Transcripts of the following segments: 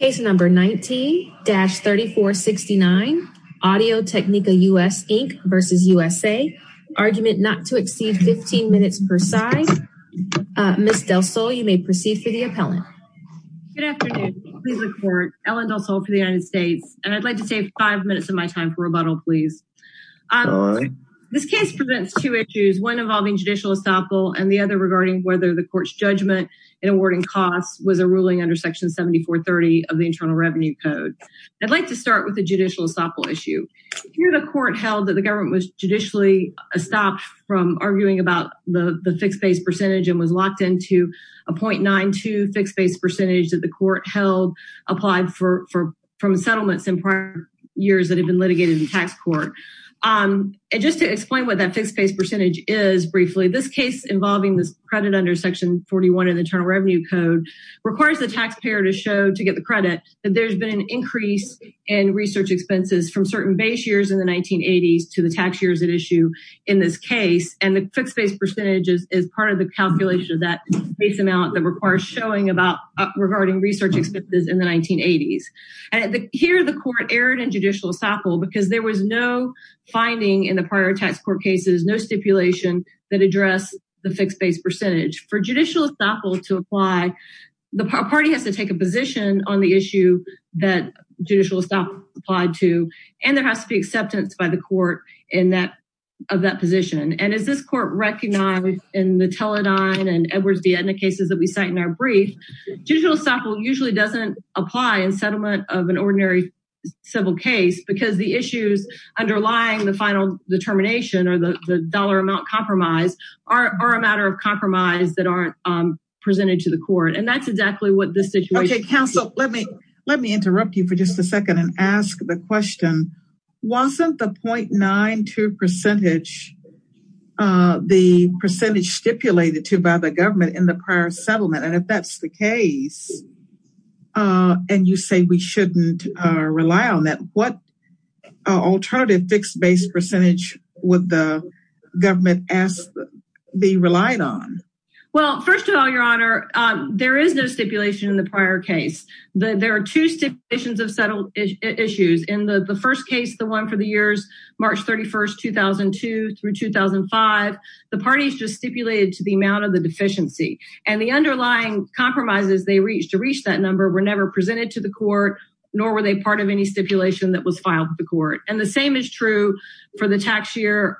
Case number 19-3469 Audio Technica US Inc v. USA Argument not to exceed 15 minutes per side Ms. Del Sol you may proceed for the appellant Ellen Del Sol for the United States and I'd like to save five minutes of my time for rebuttal, please This case presents two issues one involving judicial assemble and the other regarding whether the court's judgment in awarding costs was a ruling under Section 7430 of the Internal Revenue Code. I'd like to start with a judicial assemble issue Here the court held that the government was judicially Stopped from arguing about the the fixed base percentage and was locked into a 0.92 fixed base percentage that the court held Applied for from settlements in prior years that have been litigated in tax court And just to explain what that fixed base percentage is briefly this case involving this credit under section 41 in the Internal Revenue Code Requires the taxpayer to show to get the credit that there's been an increase in Research expenses from certain base years in the 1980s to the tax years at issue in this case And the fixed base percentage is part of the calculation of that base amount that requires showing about Regarding research expenses in the 1980s and here the court erred in judicial assemble because there was no Finding in the prior tax court cases no stipulation that address the fixed base percentage for judicial assemble to apply the party has to take a position on the issue that judicial stop applied to and there has to be acceptance by the court in that of that position and is this court Recognized in the Teledyne and Edwards-Vietna cases that we cite in our brief Digital sample usually doesn't apply in settlement of an ordinary Civil case because the issues underlying the final determination or the dollar amount compromise are a matter of compromise that aren't Presented to the court and that's exactly what this situation is. Okay, counsel Let me let me interrupt you for just a second and ask the question Wasn't the 0.92% The percentage stipulated to by the government in the prior settlement and if that's the case And you say we shouldn't rely on that what alternative fixed base percentage would the There is no stipulation in the prior case that there are two Stipulations of settled issues in the the first case the one for the years March 31st 2002 through 2005 the parties just stipulated to the amount of the deficiency and the underlying Compromises they reached to reach that number were never presented to the court Nor were they part of any stipulation that was filed to the court and the same is true for the tax year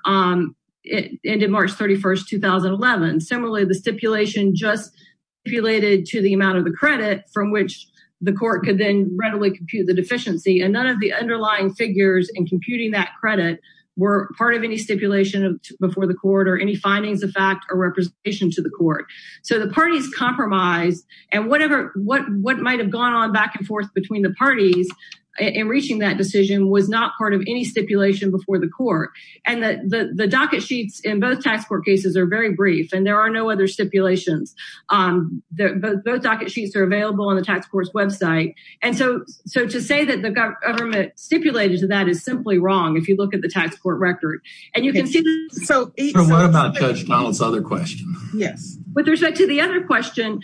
Ended March 31st 2011 similarly the stipulation just stipulated to the amount of the credit from which The court could then readily compute the deficiency and none of the underlying figures and computing that credit Were part of any stipulation of before the court or any findings of fact or representation to the court? So the parties compromised and whatever what what might have gone on back and forth between the parties In reaching that decision was not part of any stipulation before the court and that the the docket sheets in both tax court cases are Very brief and there are no other stipulations The both docket sheets are available on the tax courts website And so so to say that the government Stipulated to that is simply wrong. If you look at the tax court record and you can see so Another question. Yes, but there's like to the other question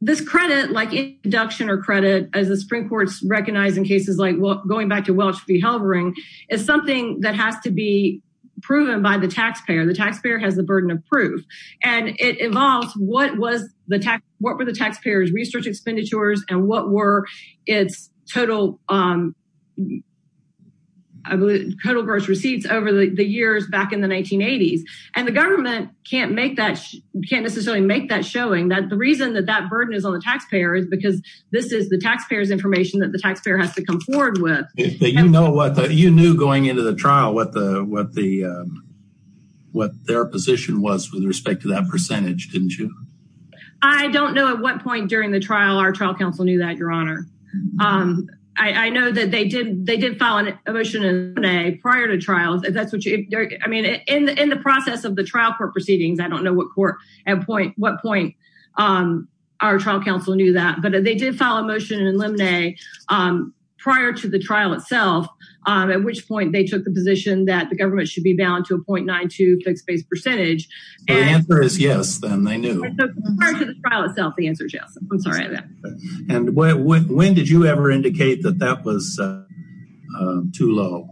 This credit like induction or credit as the Supreme Court's recognized in cases like what going back to Welch v Halbering is something that has to be Proven by the taxpayer the taxpayer has the burden of proof and it involves what was the tax? What were the taxpayers research expenditures and what were its total? Total gross receipts over the years back in the 1980s and the government can't make that Can't necessarily make that showing that the reason that that burden is on the taxpayer is because this is the taxpayers information that the taxpayer has to come forward with you know, what you knew going into the trial with the what the What their position was with respect to that percentage didn't you? I don't know at what point during the trial Our trial counsel knew that your honor I know that they did they did follow an emotion in a prior to trials That's what you I mean in the process of the trial court proceedings I don't know what court at point what point on our trial counsel knew that but they did follow motion in limine prior to the trial itself At which point they took the position that the government should be bound to a point nine to fix based percentage Answer is yes, then they knew The answer is yes, I'm sorry that and when did you ever indicate that that was? too low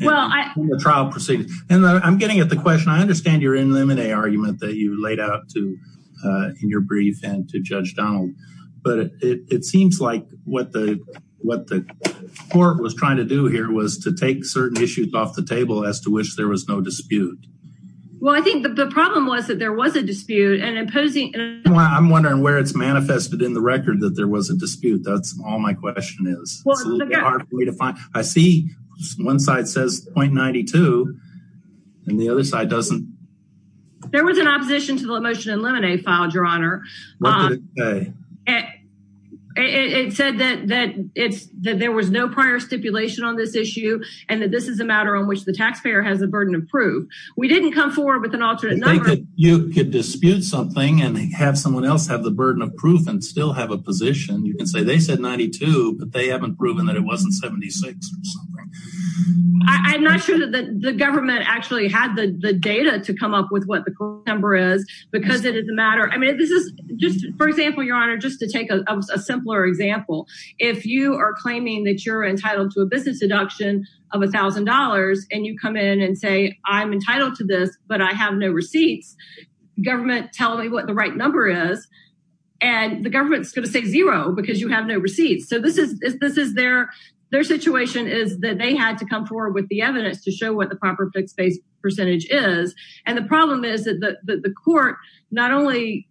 Well, I trial proceedings and I'm getting at the question I understand you're in limine argument that you laid out to in your brief and to judge down but it seems like what the what the Court was trying to do here was to take certain issues off the table as to which there was no dispute Well, I think the problem was that there was a dispute and imposing I'm wondering where it's manifested in the record that there was a dispute. That's all my question is Way to find I see one side says 0.92 And the other side doesn't There was an opposition to the motion in limine filed your honor It said that that it's that there was no prior stipulation on this issue And that this is a matter on which the taxpayer has a burden of proof We didn't come forward with an alternate You could dispute something and have someone else have the burden of proof and still have a position you can say they said 92 But they haven't proven that it wasn't 76 I'm not sure that the government actually had the data to come up with what the core number is because it is a matter I mean, this is just for example, your honor just to take a simpler example If you are claiming that you're entitled to a business deduction of a thousand dollars and you come in and say I'm entitled to this But I have no receipts government tell me what the right number is and The government's going to say zero because you have no receipts So this is this is their their situation is that they had to come forward with the evidence to show what the proper fixed-base Percentage is and the problem is that the the court not only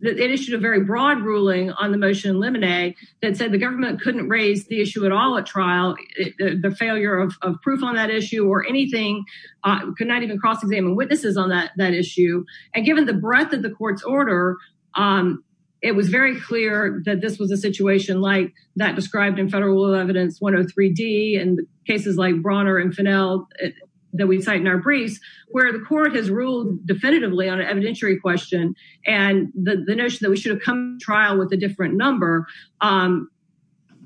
That it issued a very broad ruling on the motion in limine that said the government couldn't raise the issue at all at trial The failure of proof on that issue or anything Could not even cross-examine witnesses on that that issue and given the breadth of the court's order It was very clear that this was a situation like that described in federal evidence 103 D and cases like Bronner and Finnell that we'd cite in our briefs where the court has ruled definitively on an evidentiary question and The notion that we should have come to trial with a different number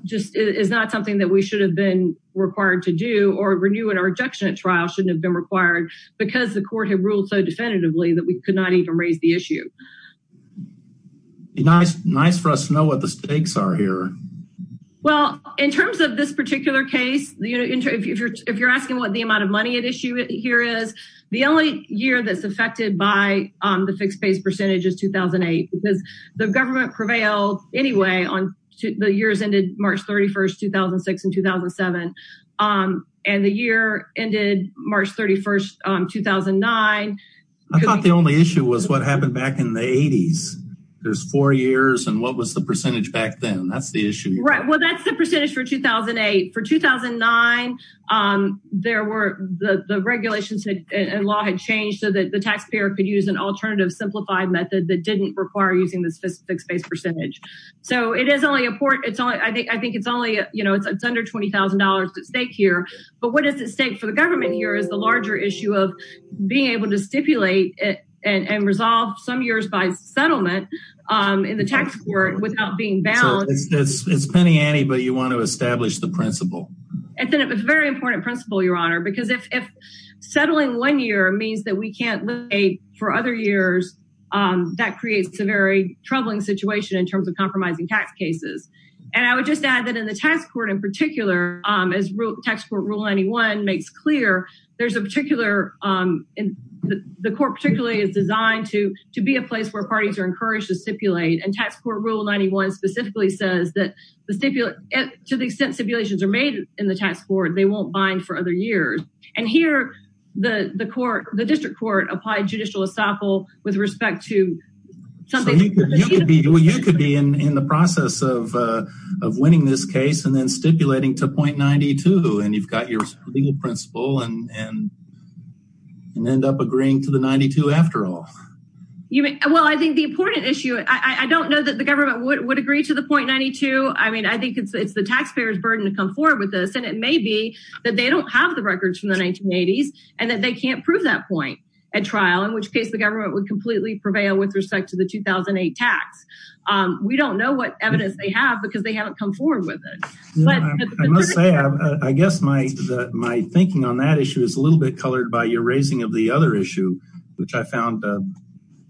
Just is not something that we should have been Required to do or renew and our injection at trial shouldn't have been required Because the court had ruled so definitively that we could not even raise the issue Nice nice for us to know what the stakes are here Well in terms of this particular case the interview if you're if you're asking what the amount of money at issue it here is The only year that's affected by the fixed-base percentage is 2008 because the government prevailed Anyway on the years ended March 31st 2006 and 2007 And the year ended March 31st 2009 I thought the only issue was what happened back in the 80s There's four years and what was the percentage back then? That's the issue, right? Well, that's the percentage for 2008 for 2009 There were the the regulations and law had changed so that the taxpayer could use an alternative Simplified method that didn't require using the specific space percentage. So it is only a port It's only I think I think it's only you know, it's under $20,000 at stake here But what is it safe for the government here is the larger issue of being able to stipulate it and resolve some years by settlement In the tax court without being balanced. It's penny Annie, but you want to establish the principle and then it was a very important principle your honor because if Settling one year means that we can't live a for other years That creates a very troubling situation in terms of compromising tax cases And I would just add that in the tax court in particular as real tax court rule anyone makes clear. There's a particular The court particularly is designed to to be a place where parties are encouraged to stipulate and tax court rule 91 Specifically says that the stipulate to the extent stipulations are made in the tax board They won't bind for other years and here the the court the district court applied judicial estoppel with respect to You could be in the process of winning this case and then stipulating to 0.92 and you've got your legal principle and And end up agreeing to the 92 after all You mean well, I think the important issue. I don't know that the government would agree to the 0.92 I mean, I think it's the taxpayers burden to come forward with this and it may be that they don't have the records from The 1980s and that they can't prove that point at trial in which case the government would completely prevail with respect to the 2008 tax We don't know what evidence they have because they haven't come forward with it I Guess my that my thinking on that issue is a little bit colored by your raising of the other issue, which I found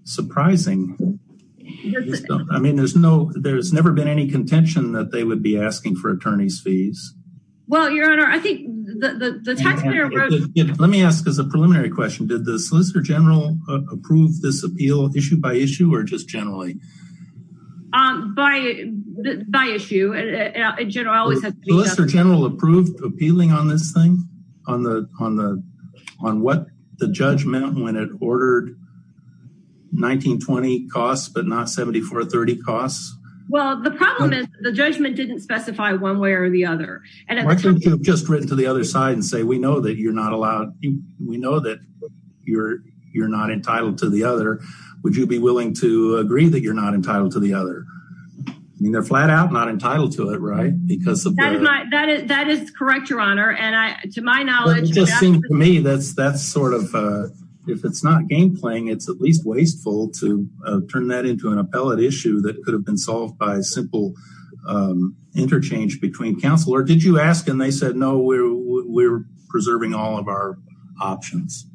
surprising I Mean, there's no there's never been any contention that they would be asking for attorneys fees Well your honor, I think The taxpayer let me ask is a preliminary question did the Solicitor General approve this appeal issue by issue or just generally by by issue Solicitor General approved appealing on this thing on the on the on what the judge meant when it ordered 1920 costs but not 7430 costs. Well, the problem is the judgment didn't specify one way or the other and Just written to the other side and say we know that you're not allowed you we know that you're you're not entitled to the other Would you be willing to agree that you're not entitled to the other? I mean, they're flat-out not entitled to it, right because that is that is correct your honor and I to my knowledge Me that's that's sort of if it's not game playing It's at least wasteful to turn that into an appellate issue that could have been solved by a simple Interchange between counsel or did you ask and they said no, we're preserving all of our options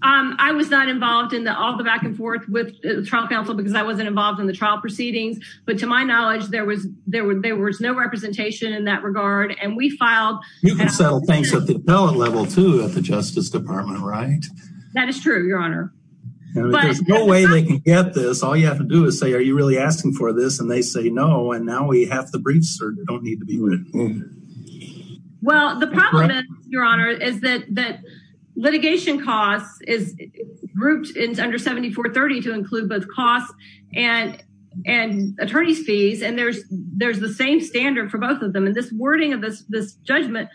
I Was not involved in the all the back-and-forth with the trial counsel because I wasn't involved in the trial proceedings But to my knowledge there was there were there was no representation in that regard and we filed You can settle things at the appellate level to at the Justice Department, right? That is true. Your honor There's no way they can get this To do is say are you really asking for this and they say no and now we have the briefs or don't need to be Well, the problem your honor is that that litigation costs is grouped in under 7430 to include both costs and and attorneys fees and there's there's the same standard for both of them and this wording of this this judgment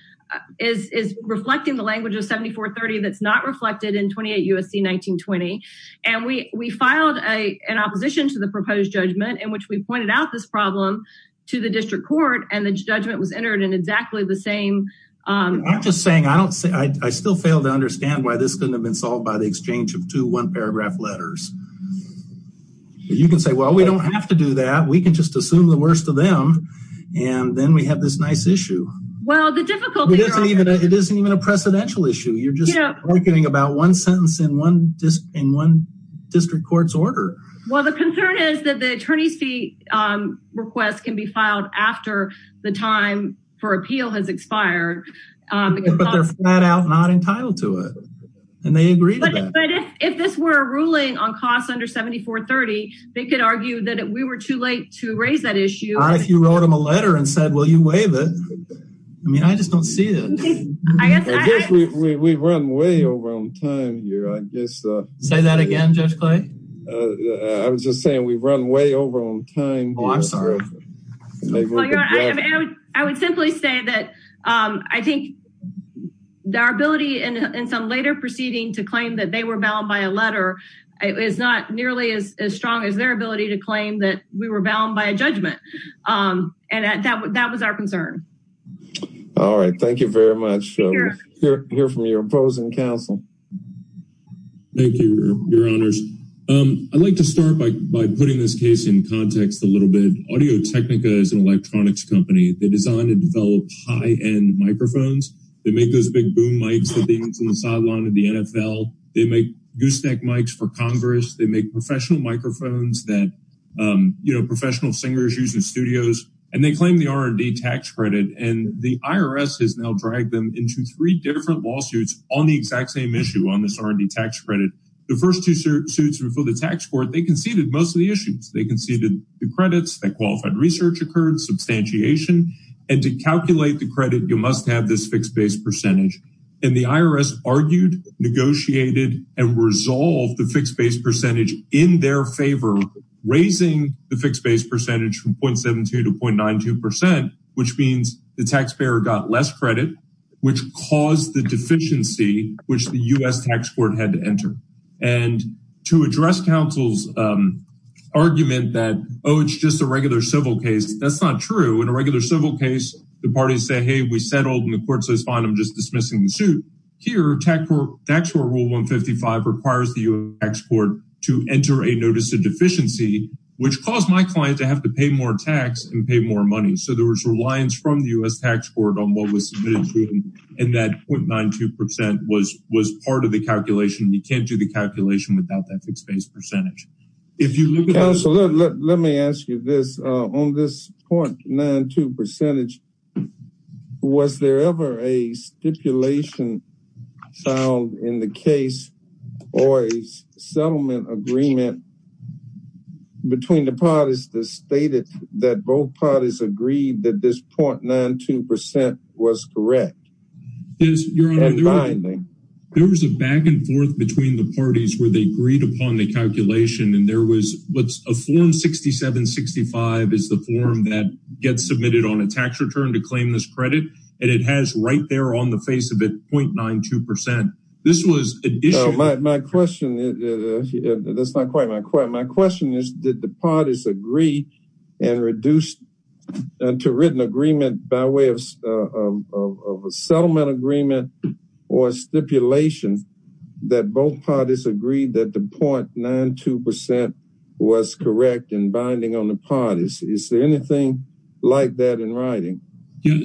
is Reflecting the language of 7430 that's not reflected in 28 USC 1920 And we we filed a an opposition to the proposed judgment in which we pointed out this problem To the district court and the judgment was entered in exactly the same I'm just saying I don't say I still fail to understand why this couldn't have been solved by the exchange of two one paragraph letters You can say well, we don't have to do that. We can just assume the worst of them and then we have this nice issue Well the difficulty even it isn't even a precedential issue We're getting about one sentence in one just in one district court's order. Well, the concern is that the attorney's fee Requests can be filed after the time for appeal has expired But they're flat-out not entitled to it and they agree If this were a ruling on costs under 7430 They could argue that we were too late to raise that issue if you wrote him a letter and said will you waive it? I mean, I just don't see it I guess we've run way over on time here. I guess say that again. Judge Clay. I Was just saying we've run way over on time. Oh, I'm sorry I would simply say that I think Their ability and some later proceeding to claim that they were bound by a letter It's not nearly as strong as their ability to claim that we were bound by a judgment And that that was our concern All right, thank you very much Here from your opposing counsel Thank you I'd like to start by putting this case in context a little bit audio technica is an electronics company They designed and developed high-end microphones. They make those big boom mics for things in the sideline of the NFL They make gooseneck mics for Congress. They make professional microphones that You know professional singers use in studios and they claim the R&D tax credit and the IRS has now dragged them into three different Lawsuits on the exact same issue on this R&D tax credit the first two suits before the tax court They conceded most of the issues. They conceded the credits that qualified research occurred Substantiation and to calculate the credit you must have this fixed base percentage and the IRS argued Negotiated and resolved the fixed base percentage in their favor Raising the fixed base percentage from 0.72 to 0.92 percent which means the taxpayer got less credit which caused the deficiency which the US Tax Court had to enter and to address counsel's Argument that oh, it's just a regular civil case. That's not true in a regular civil case the parties say hey we settled in So it's fine. I'm just dismissing the suit. Here tax court rule 155 requires the US Tax Court to enter a notice of deficiency Which caused my client to have to pay more tax and pay more money So there was reliance from the US Tax Court on what was submitted to him and that 0.92 percent was was part of the calculation You can't do the calculation without that fixed base percentage Let me ask you this on this 0.92 percentage Was there ever a stipulation found in the case or a settlement agreement Between the parties that stated that both parties agreed that this 0.92 percent was correct There was a back-and-forth between the parties where they agreed upon the calculation and there was what's a form 16765 is the form that gets submitted on a tax return to claim this credit and it has right there on the face of it 0.92 percent. This was my question That's not quite my question. My question is did the parties agree and reduced? to written agreement by way of Settlement agreement or Stipulation that both parties agreed that the 0.92 percent Was correct and binding on the parties. Is there anything like that in writing?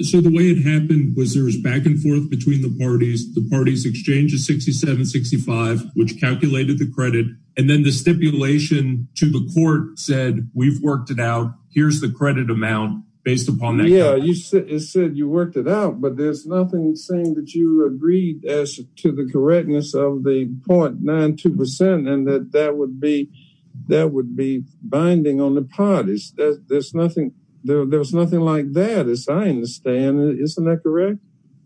So the way it happened was there's back-and-forth between the parties the parties exchange is 6765 which calculated the credit and then the stipulation to the court said we've worked it out Here's the credit amount based upon that. Yeah, you said you worked it out But there's nothing saying that you agreed as to the correctness of the 0.92 percent and that that would be That would be binding on the parties. There's nothing there. There's nothing like that as I understand. Isn't that correct?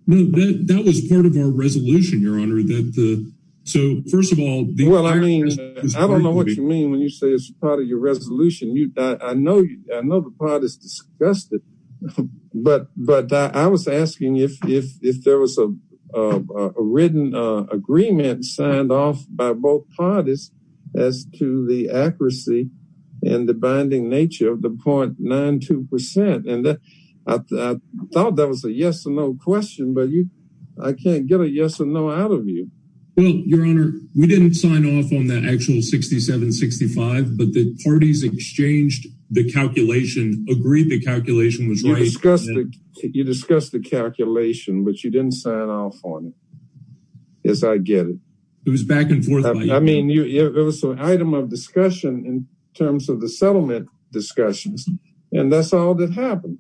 That was part of our resolution your honor that the so first of all, well, I mean I don't know what you mean when you say it's part of your resolution you I know you know, the pot is disgusted But but I was asking if if there was a written Agreement signed off by both parties as to the accuracy and the binding nature of the 0.92 percent and that I Thought that was a yes-or-no question, but you I can't get a yes or no out of you Well, your honor, we didn't sign off on that actual 6765 but the parties exchanged the calculation agreed. The calculation was right You discussed the calculation, but you didn't sign off on it Yes, I get it. It was back and forth. I mean you it was an item of discussion in terms of the settlement Discussions and that's all that happened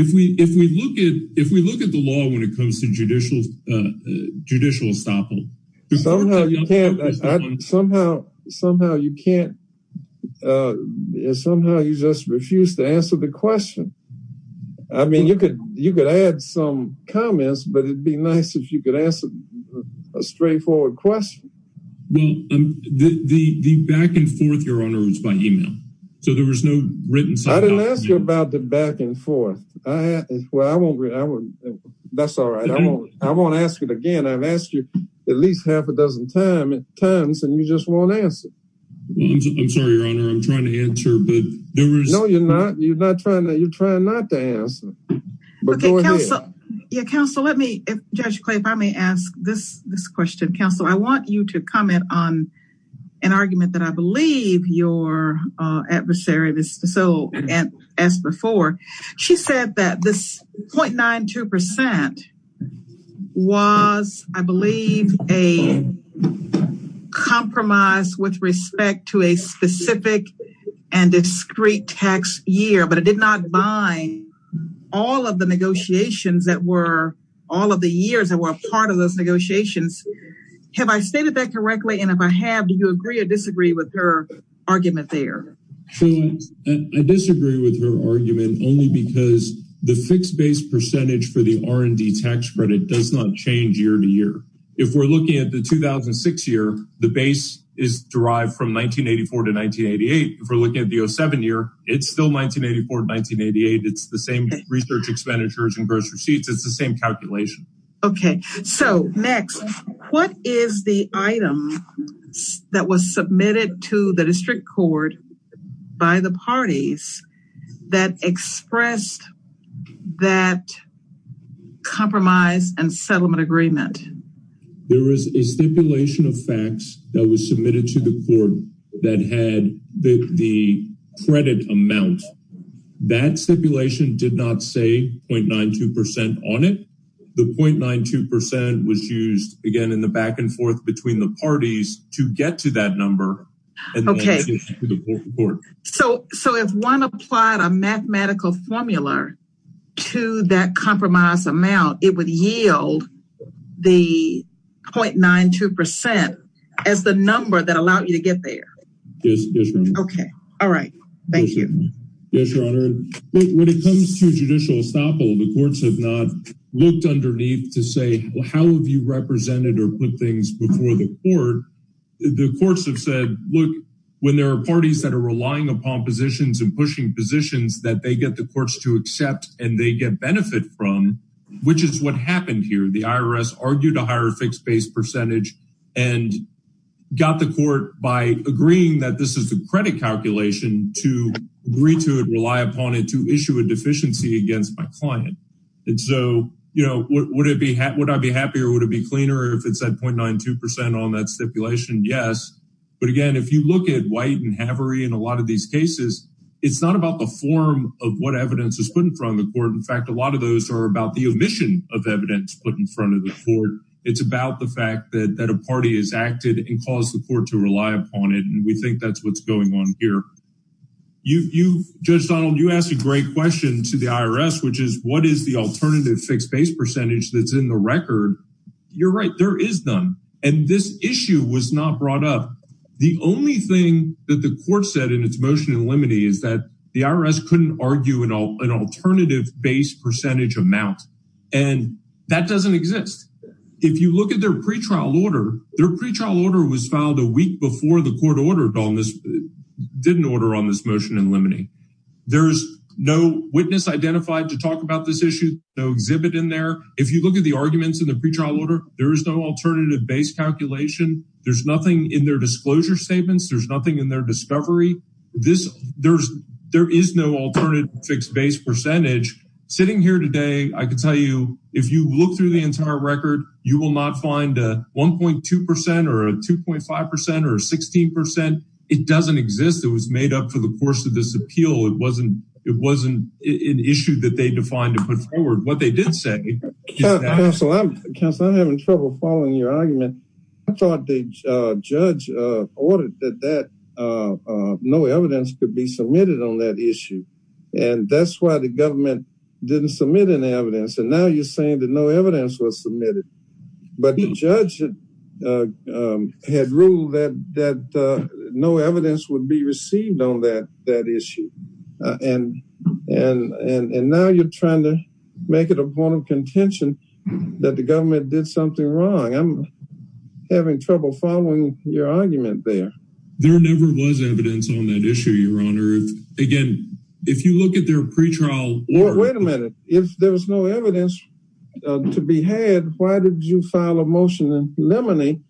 If we if we look at if we look at the law when it comes to judicial Judicial Somehow somehow you can't Somehow you just refuse to answer the question. I Mean you could you could add some comments, but it'd be nice if you could answer a straightforward question Well, the the back and forth your honor was by email. So there was no written So I didn't ask you about the back and forth. I Well, I won't That's all right. I won't ask it again. I've asked you at least half a dozen time at times and you just won't answer No, you're not you're not trying that you're trying not to answer Yeah counsel, let me judge Clay if I may ask this this question counsel, I want you to comment on an argument that I believe your Adversary of his soul and as before she said that this point nine two percent was I believe a Compromise with respect to a specific and Discrete tax year, but it did not bind All of the negotiations that were all of the years that were a part of those negotiations Have I stated that correctly and if I have do you agree or disagree with her argument there? I Disagree with her argument only because the fixed base percentage for the R&D tax credit does not change year-to-year If we're looking at the 2006 year, the base is derived from 1984 to 1988 If we're looking at the o7 year, it's still 1984 1988. It's the same research expenditures and gross receipts. It's the same calculation Okay. So next what is the item? That was submitted to the district court by the parties that expressed that Compromise and settlement agreement There is a stipulation of facts that was submitted to the court that had the credit amount That stipulation did not say point nine two percent on it Point nine two percent was used again in the back and forth between the parties to get to that number So so if one applied a mathematical formula to that compromise amount it would yield the Point nine two percent as the number that allowed you to get there Okay. All right. Thank you When it comes to judicial estoppel, the courts have not looked underneath to say well How have you represented or put things before the court? the courts have said look when there are parties that are relying upon positions and pushing positions that they get the courts to accept and they get benefit from which is what happened here the IRS argued a higher fixed base percentage and Got the court by agreeing that this is the credit calculation to Agree to it rely upon it to issue a deficiency against my client And so, you know, what would it be? How would I be happier would it be cleaner if it said point nine two percent on that stipulation? Yes, but again, if you look at white and Haveri in a lot of these cases It's not about the form of what evidence is put in front of the court In fact, a lot of those are about the omission of evidence put in front of the court It's about the fact that that a party is acted and caused the court to rely upon it and we think that's what's going on here You you judge Donald you asked a great question to the IRS, which is what is the alternative fixed base percentage? That's in the record. You're right. There is none and this issue was not brought up the only thing that the court said in its motion in limine is that the IRS couldn't argue an alternative base percentage amount and That doesn't exist if you look at their pretrial order their pretrial order was filed a week before the court ordered on this Didn't order on this motion in limine There's no witness identified to talk about this issue No exhibit in there if you look at the arguments in the pretrial order, there is no alternative base calculation There's nothing in their disclosure statements. There's nothing in their discovery this there's there is no alternative fixed base percentage Sitting here today. I could tell you if you look through the entire record You will not find a 1.2 percent or a 2.5 percent or 16 percent. It doesn't exist It was made up for the course of this appeal. It wasn't it wasn't an issue that they defined to put forward what they did Counselor I'm having trouble following your argument. I thought the judge ordered that that No evidence could be submitted on that issue and that's why the government Didn't submit an evidence and now you're saying that no evidence was submitted but the judge Had ruled that that No evidence would be received on that that issue And and and and now you're trying to make it a point of contention that the government did something wrong. I'm Your argument there there never was evidence on that issue your honor again, if you look at their pretrial Well, wait a minute if there was no evidence To be had why did you file a motion and lemony?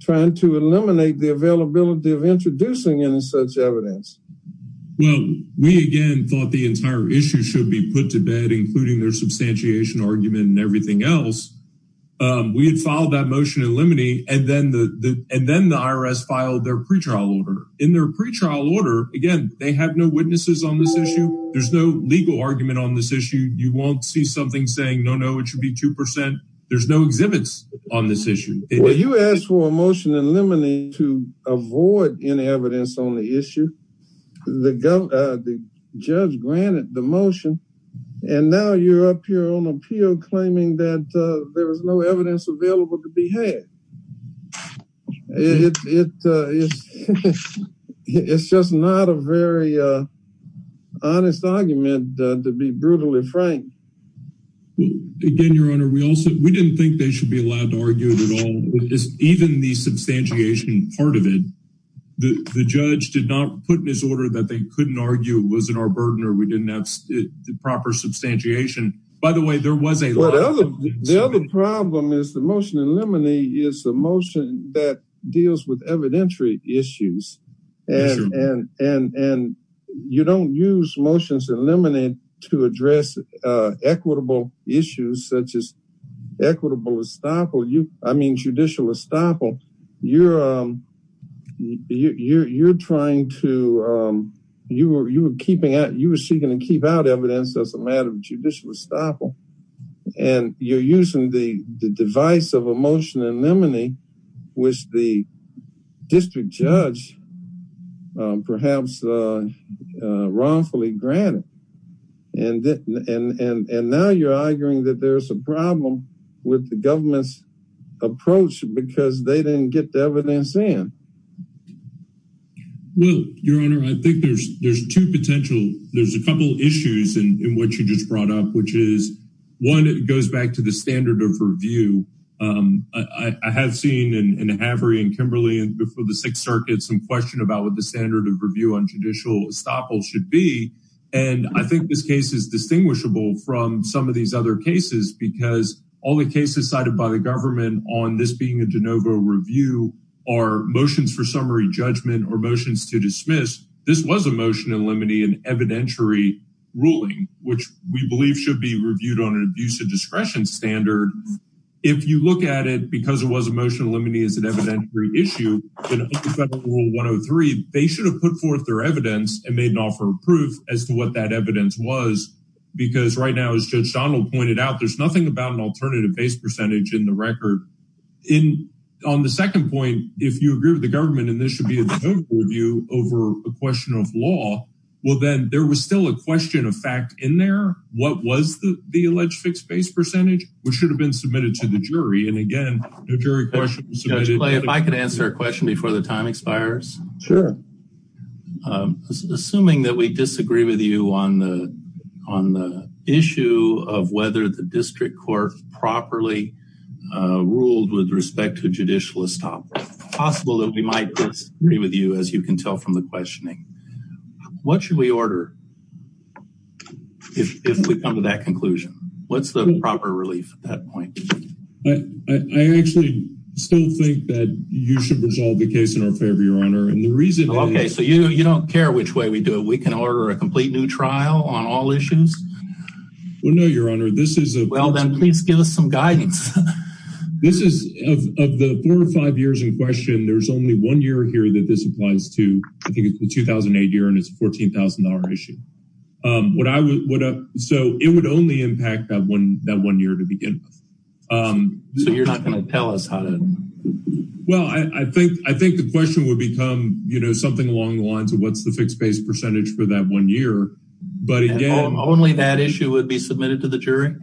Trying to eliminate the availability of introducing any such evidence Well, we again thought the entire issue should be put to bed including their substantiation argument and everything else We had filed that motion in limine and then the and then the IRS filed their pretrial order in their pretrial order again They have no witnesses on this issue. There's no legal argument on this issue. You won't see something saying no No, it should be 2% There's no exhibits on this issue Well, you asked for a motion and lemonade to avoid any evidence on the issue the Judge granted the motion and now you're up here on appeal claiming that there was no evidence available to be had It's just not a very Honest argument to be brutally frank Again, your honor. We also we didn't think they should be allowed to argue at all Even the substantiation part of it The judge did not put in his order that they couldn't argue was in our burden or we didn't have the proper Substantiation by the way, there was a lot of the other problem is the motion and lemony is a motion that deals with evidentiary issues and and and and you don't use motions eliminate to address equitable issues such as Equitable estoppel you I mean judicial estoppel. You're You're you're trying to You were you were keeping out you were seeking to keep out evidence. That's a matter of judicial estoppel and you're using the the device of a motion and lemonade which the district judge perhaps Wrongfully granted and And and and now you're arguing that there's a problem with the government's Approach because they didn't get the evidence in Well, your honor, I think there's there's two potential there's a couple issues and in what you just brought up which is One it goes back to the standard of review I Have seen in a havery and Kimberly and before the Sixth Circuit some question about what the standard of review on judicial estoppel should be and I think this case is Distinguishable from some of these other cases because all the cases cited by the government on this being a de novo review our Motions for summary judgment or motions to dismiss. This was a motion and lemony and evidentiary Ruling which we believe should be reviewed on an abuse of discretion standard If you look at it because it was a motion limiting is an evident reissue 103 they should have put forth their evidence and made an offer of proof as to what that evidence was Because right now as judge Donald pointed out, there's nothing about an alternative base percentage in the record In on the second point if you agree with the government and this should be a vote for you over a question of law Well, then there was still a question of fact in there What was the the alleged fixed base percentage which should have been submitted to the jury? And again, the jury questions if I could answer a question before the time expires. Sure Assuming that we disagree with you on the on the issue of whether the district court properly Ruled with respect to judicial estoppel possible that we might disagree with you as you can tell from the questioning What should we order? If we come to that conclusion, what's the proper relief at that point? I I actually still think that you should resolve the case in our favor your honor and the reason okay So you you don't care which way we do it. We can order a complete new trial on all issues Well, no, your honor. This is a well, then please give us some guidance This is of the four or five years in question There's only one year here that this applies to I think it's the 2008 year and it's $14,000 issue What I would up so it would only impact that one that one year to begin So you're not gonna tell us how to Well, I think I think the question would become you know, something along the lines of what's the fixed base percentage for that one year? But again, only that issue would be submitted to the jury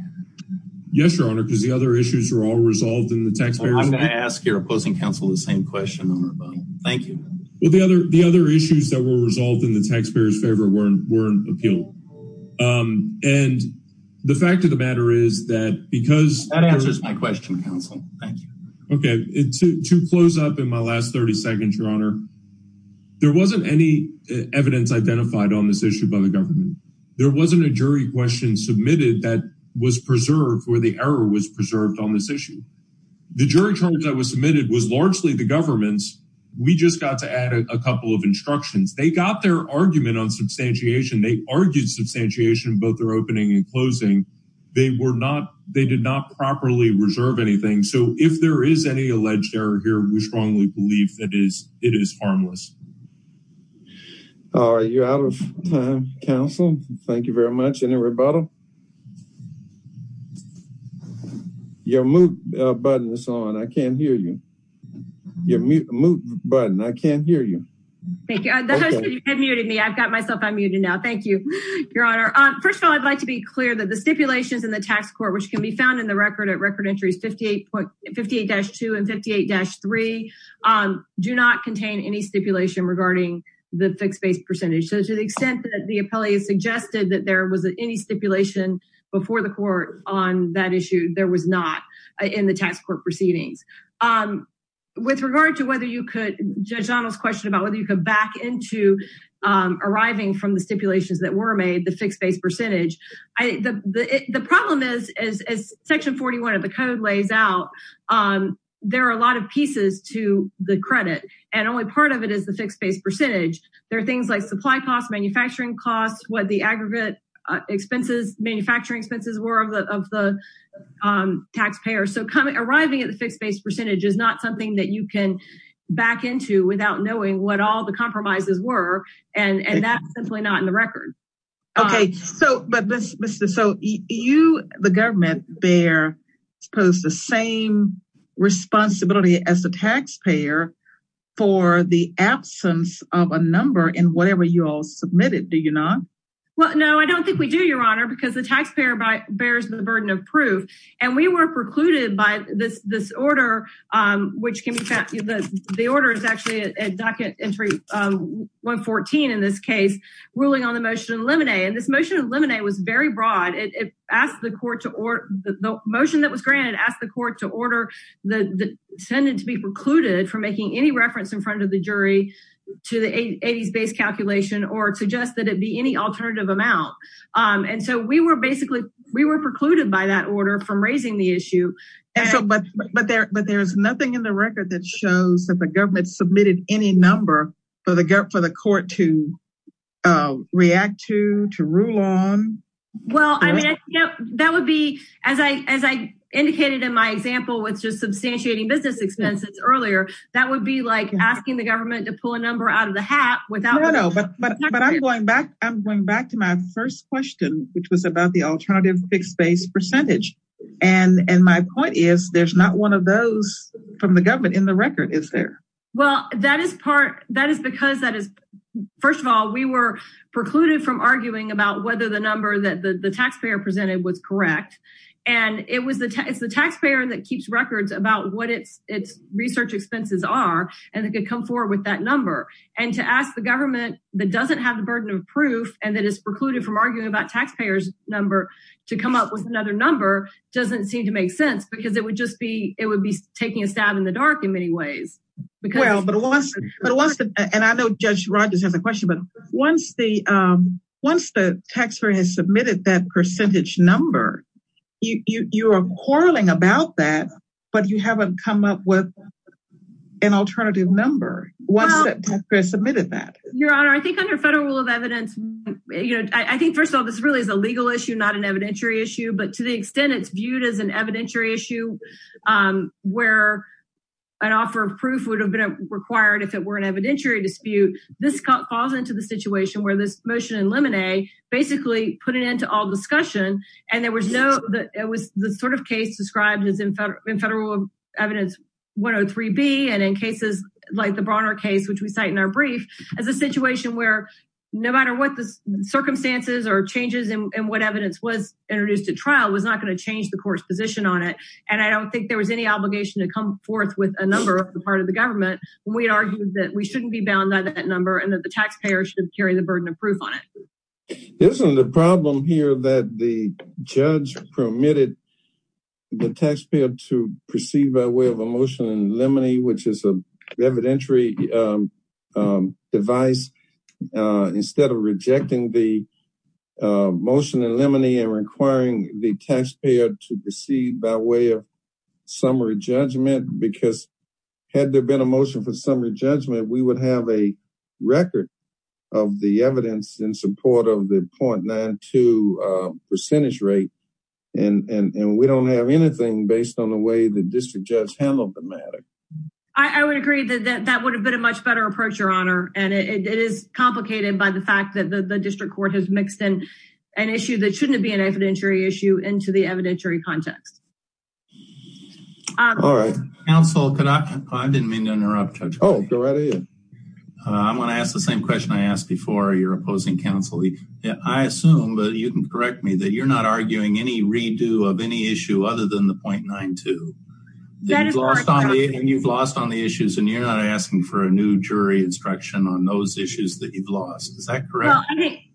Yes, your honor because the other issues are all resolved in the taxpayer Ask your opposing counsel the same question. Thank you. Well the other the other issues that were resolved in the taxpayers favor weren't weren't appealed and The fact of the matter is that because that answers my question counsel, thank you Okay to close up in my last 30 seconds, your honor There wasn't any evidence identified on this issue by the government There wasn't a jury question submitted that was preserved where the error was preserved on this issue The jury charge that was submitted was largely the government's we just got to add a couple of instructions They got their argument on substantiation. They argued substantiation both their opening and closing They were not they did not properly reserve anything. So if there is any alleged error here, we strongly believe that is it is harmless Are you out of time counsel, thank you very much any rebuttal Your mute button is on I can't hear you Your mute button. I can't hear you. Thank you You have muted me. I've got myself. I'm muted now. Thank you, your honor Um, first of all, I'd like to be clear that the stipulations in the tax court which can be found in the record at record entries 58.58-2 and 58-3 Do not contain any stipulation regarding the fixed base percentage So to the extent that the appellee is suggested that there was any stipulation Before the court on that issue there was not in the tax court proceedings With regard to whether you could judge Donald's question about whether you could back into Arriving from the stipulations that were made the fixed base percentage. I the the problem is as Section 41 of the code lays out There are a lot of pieces to the credit and only part of it is the fixed base percentage There are things like supply costs manufacturing costs what the aggregate Expenses manufacturing expenses were of the of the Taxpayer so coming arriving at the fixed base percentage is not something that you can Back into without knowing what all the compromises were and and that's simply not in the record Okay, so but this mr. So you the government they're supposed the same Responsibility as the taxpayer for the absence of a number in whatever you all submitted. Do you not? Well, no, I don't think we do your honor because the taxpayer by bears the burden of proof and we were precluded by this this order Which can be the the order is actually a docket entry 114 in this case ruling on the motion of limine and this motion of limine was very broad it asked the court to or the motion that was granted asked the court to order the Intended to be precluded from making any reference in front of the jury to the 80s base calculation or to just that it be any alternative amount And so we were basically we were precluded by that order from raising the issue and so but but there but there's nothing in the record that shows that the government submitted any number for the gap for the court to react to to rule on Well, I mean that would be as I as I indicated in my example with just substantiating business expenses earlier That would be like asking the government to pull a number out of the hat without no But but I'm going back. I'm going back to my first question, which was about the alternative fixed base percentage And and my point is there's not one of those from the government in the record. Is there well that is part That is because that is first of all We were precluded from arguing about whether the number that the the taxpayer presented was correct And it was the tax the taxpayer that keeps records about what it's it's research expenses are and it could come forward with that number And to ask the government that doesn't have the burden of proof and that is precluded from arguing about taxpayers Number to come up with another number Doesn't seem to make sense because it would just be it would be taking a stab in the dark in many ways Well, but it wasn't but it wasn't and I know judge Rogers has a question but once the Once the taxpayer has submitted that percentage number You are quarreling about that, but you haven't come up with an alternative number Submitted that your honor. I think under federal rule of evidence You know, I think first of all, this really is a legal issue not an evidentiary issue But to the extent it's viewed as an evidentiary issue Where An offer of proof would have been required if it were an evidentiary dispute This cut falls into the situation where this motion in lemonade Basically put it into all discussion and there was no that it was the sort of case described as in federal evidence 103 B and in cases like the Bronner case, which we cite in our brief as a situation where no matter what the Circumstances or changes and what evidence was introduced at trial was not going to change the court's position on it And I don't think there was any obligation to come forth with a number of the part of the government We argued that we shouldn't be bound by that number and that the taxpayer should carry the burden of proof on it Isn't the problem here that the judge permitted? The taxpayer to proceed by way of a motion and lemony, which is a evidentiary Device instead of rejecting the Motion and lemony and requiring the taxpayer to proceed by way of summary judgment because had there been a motion for summary judgment, we would have a record of the evidence in support of the point nine to Percentage rate and and and we don't have anything based on the way the district judge handled the matter I would agree that that would have been a much better approach your honor And it is complicated by the fact that the district court has mixed in an issue That shouldn't be an evidentiary issue into the evidentiary context All right, I Didn't mean to interrupt. Oh I'm gonna ask the same question. I asked before you're opposing counselee Yeah, I assume but you can correct me that you're not arguing any redo of any issue other than the 0.92 That is lost on me and you've lost on the issues and you're not asking for a new jury instruction on those issues that you've lost Is that correct?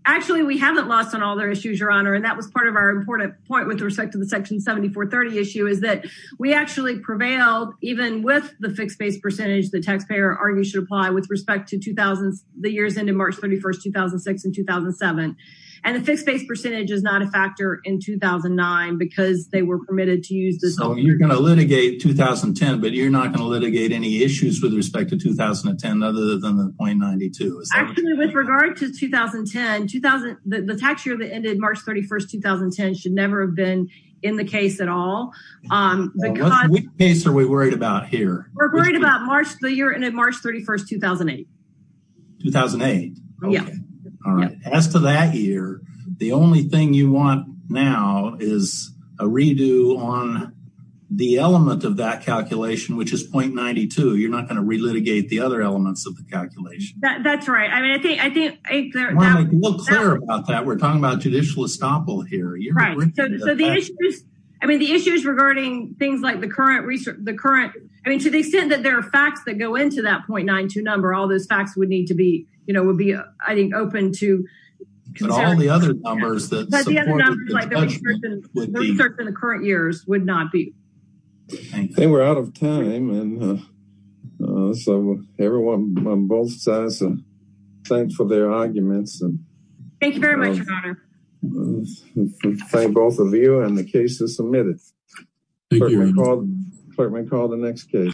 Actually, we haven't lost on all their issues your honor And that was part of our important point with respect to the section 7430 issue is that we actually prevailed even with the fixed-base Percentage the taxpayer argue should apply with respect to 2000 the years into March 31st 2006 and 2007 and the fixed-base percentage is not a factor in 2009 because they were permitted to use this. Oh, you're gonna litigate 2010 but you're not gonna litigate any issues with respect to 2010 other than the 0.92 With regard to 2010 2000 the tax year that ended March 31st 2010 should never have been in the case at all Case are we worried about here? We're worried about March the year and at March 31st 2008 2008 As to that year, the only thing you want now is a redo on The element of that calculation, which is 0.92. You're not going to re-litigate the other elements of the calculation. That's right I mean, I think I think We're talking about judicial estoppel here I mean the issues regarding things like the current research the current I mean to the extent that there are facts that go into that 0.92 number all those facts would need to be you know would be I think open to In the current years would not be they were out of time and So everyone both sides and thanks for their arguments and thank you very much Thank both of you and the cases submitted Clerk may call the next case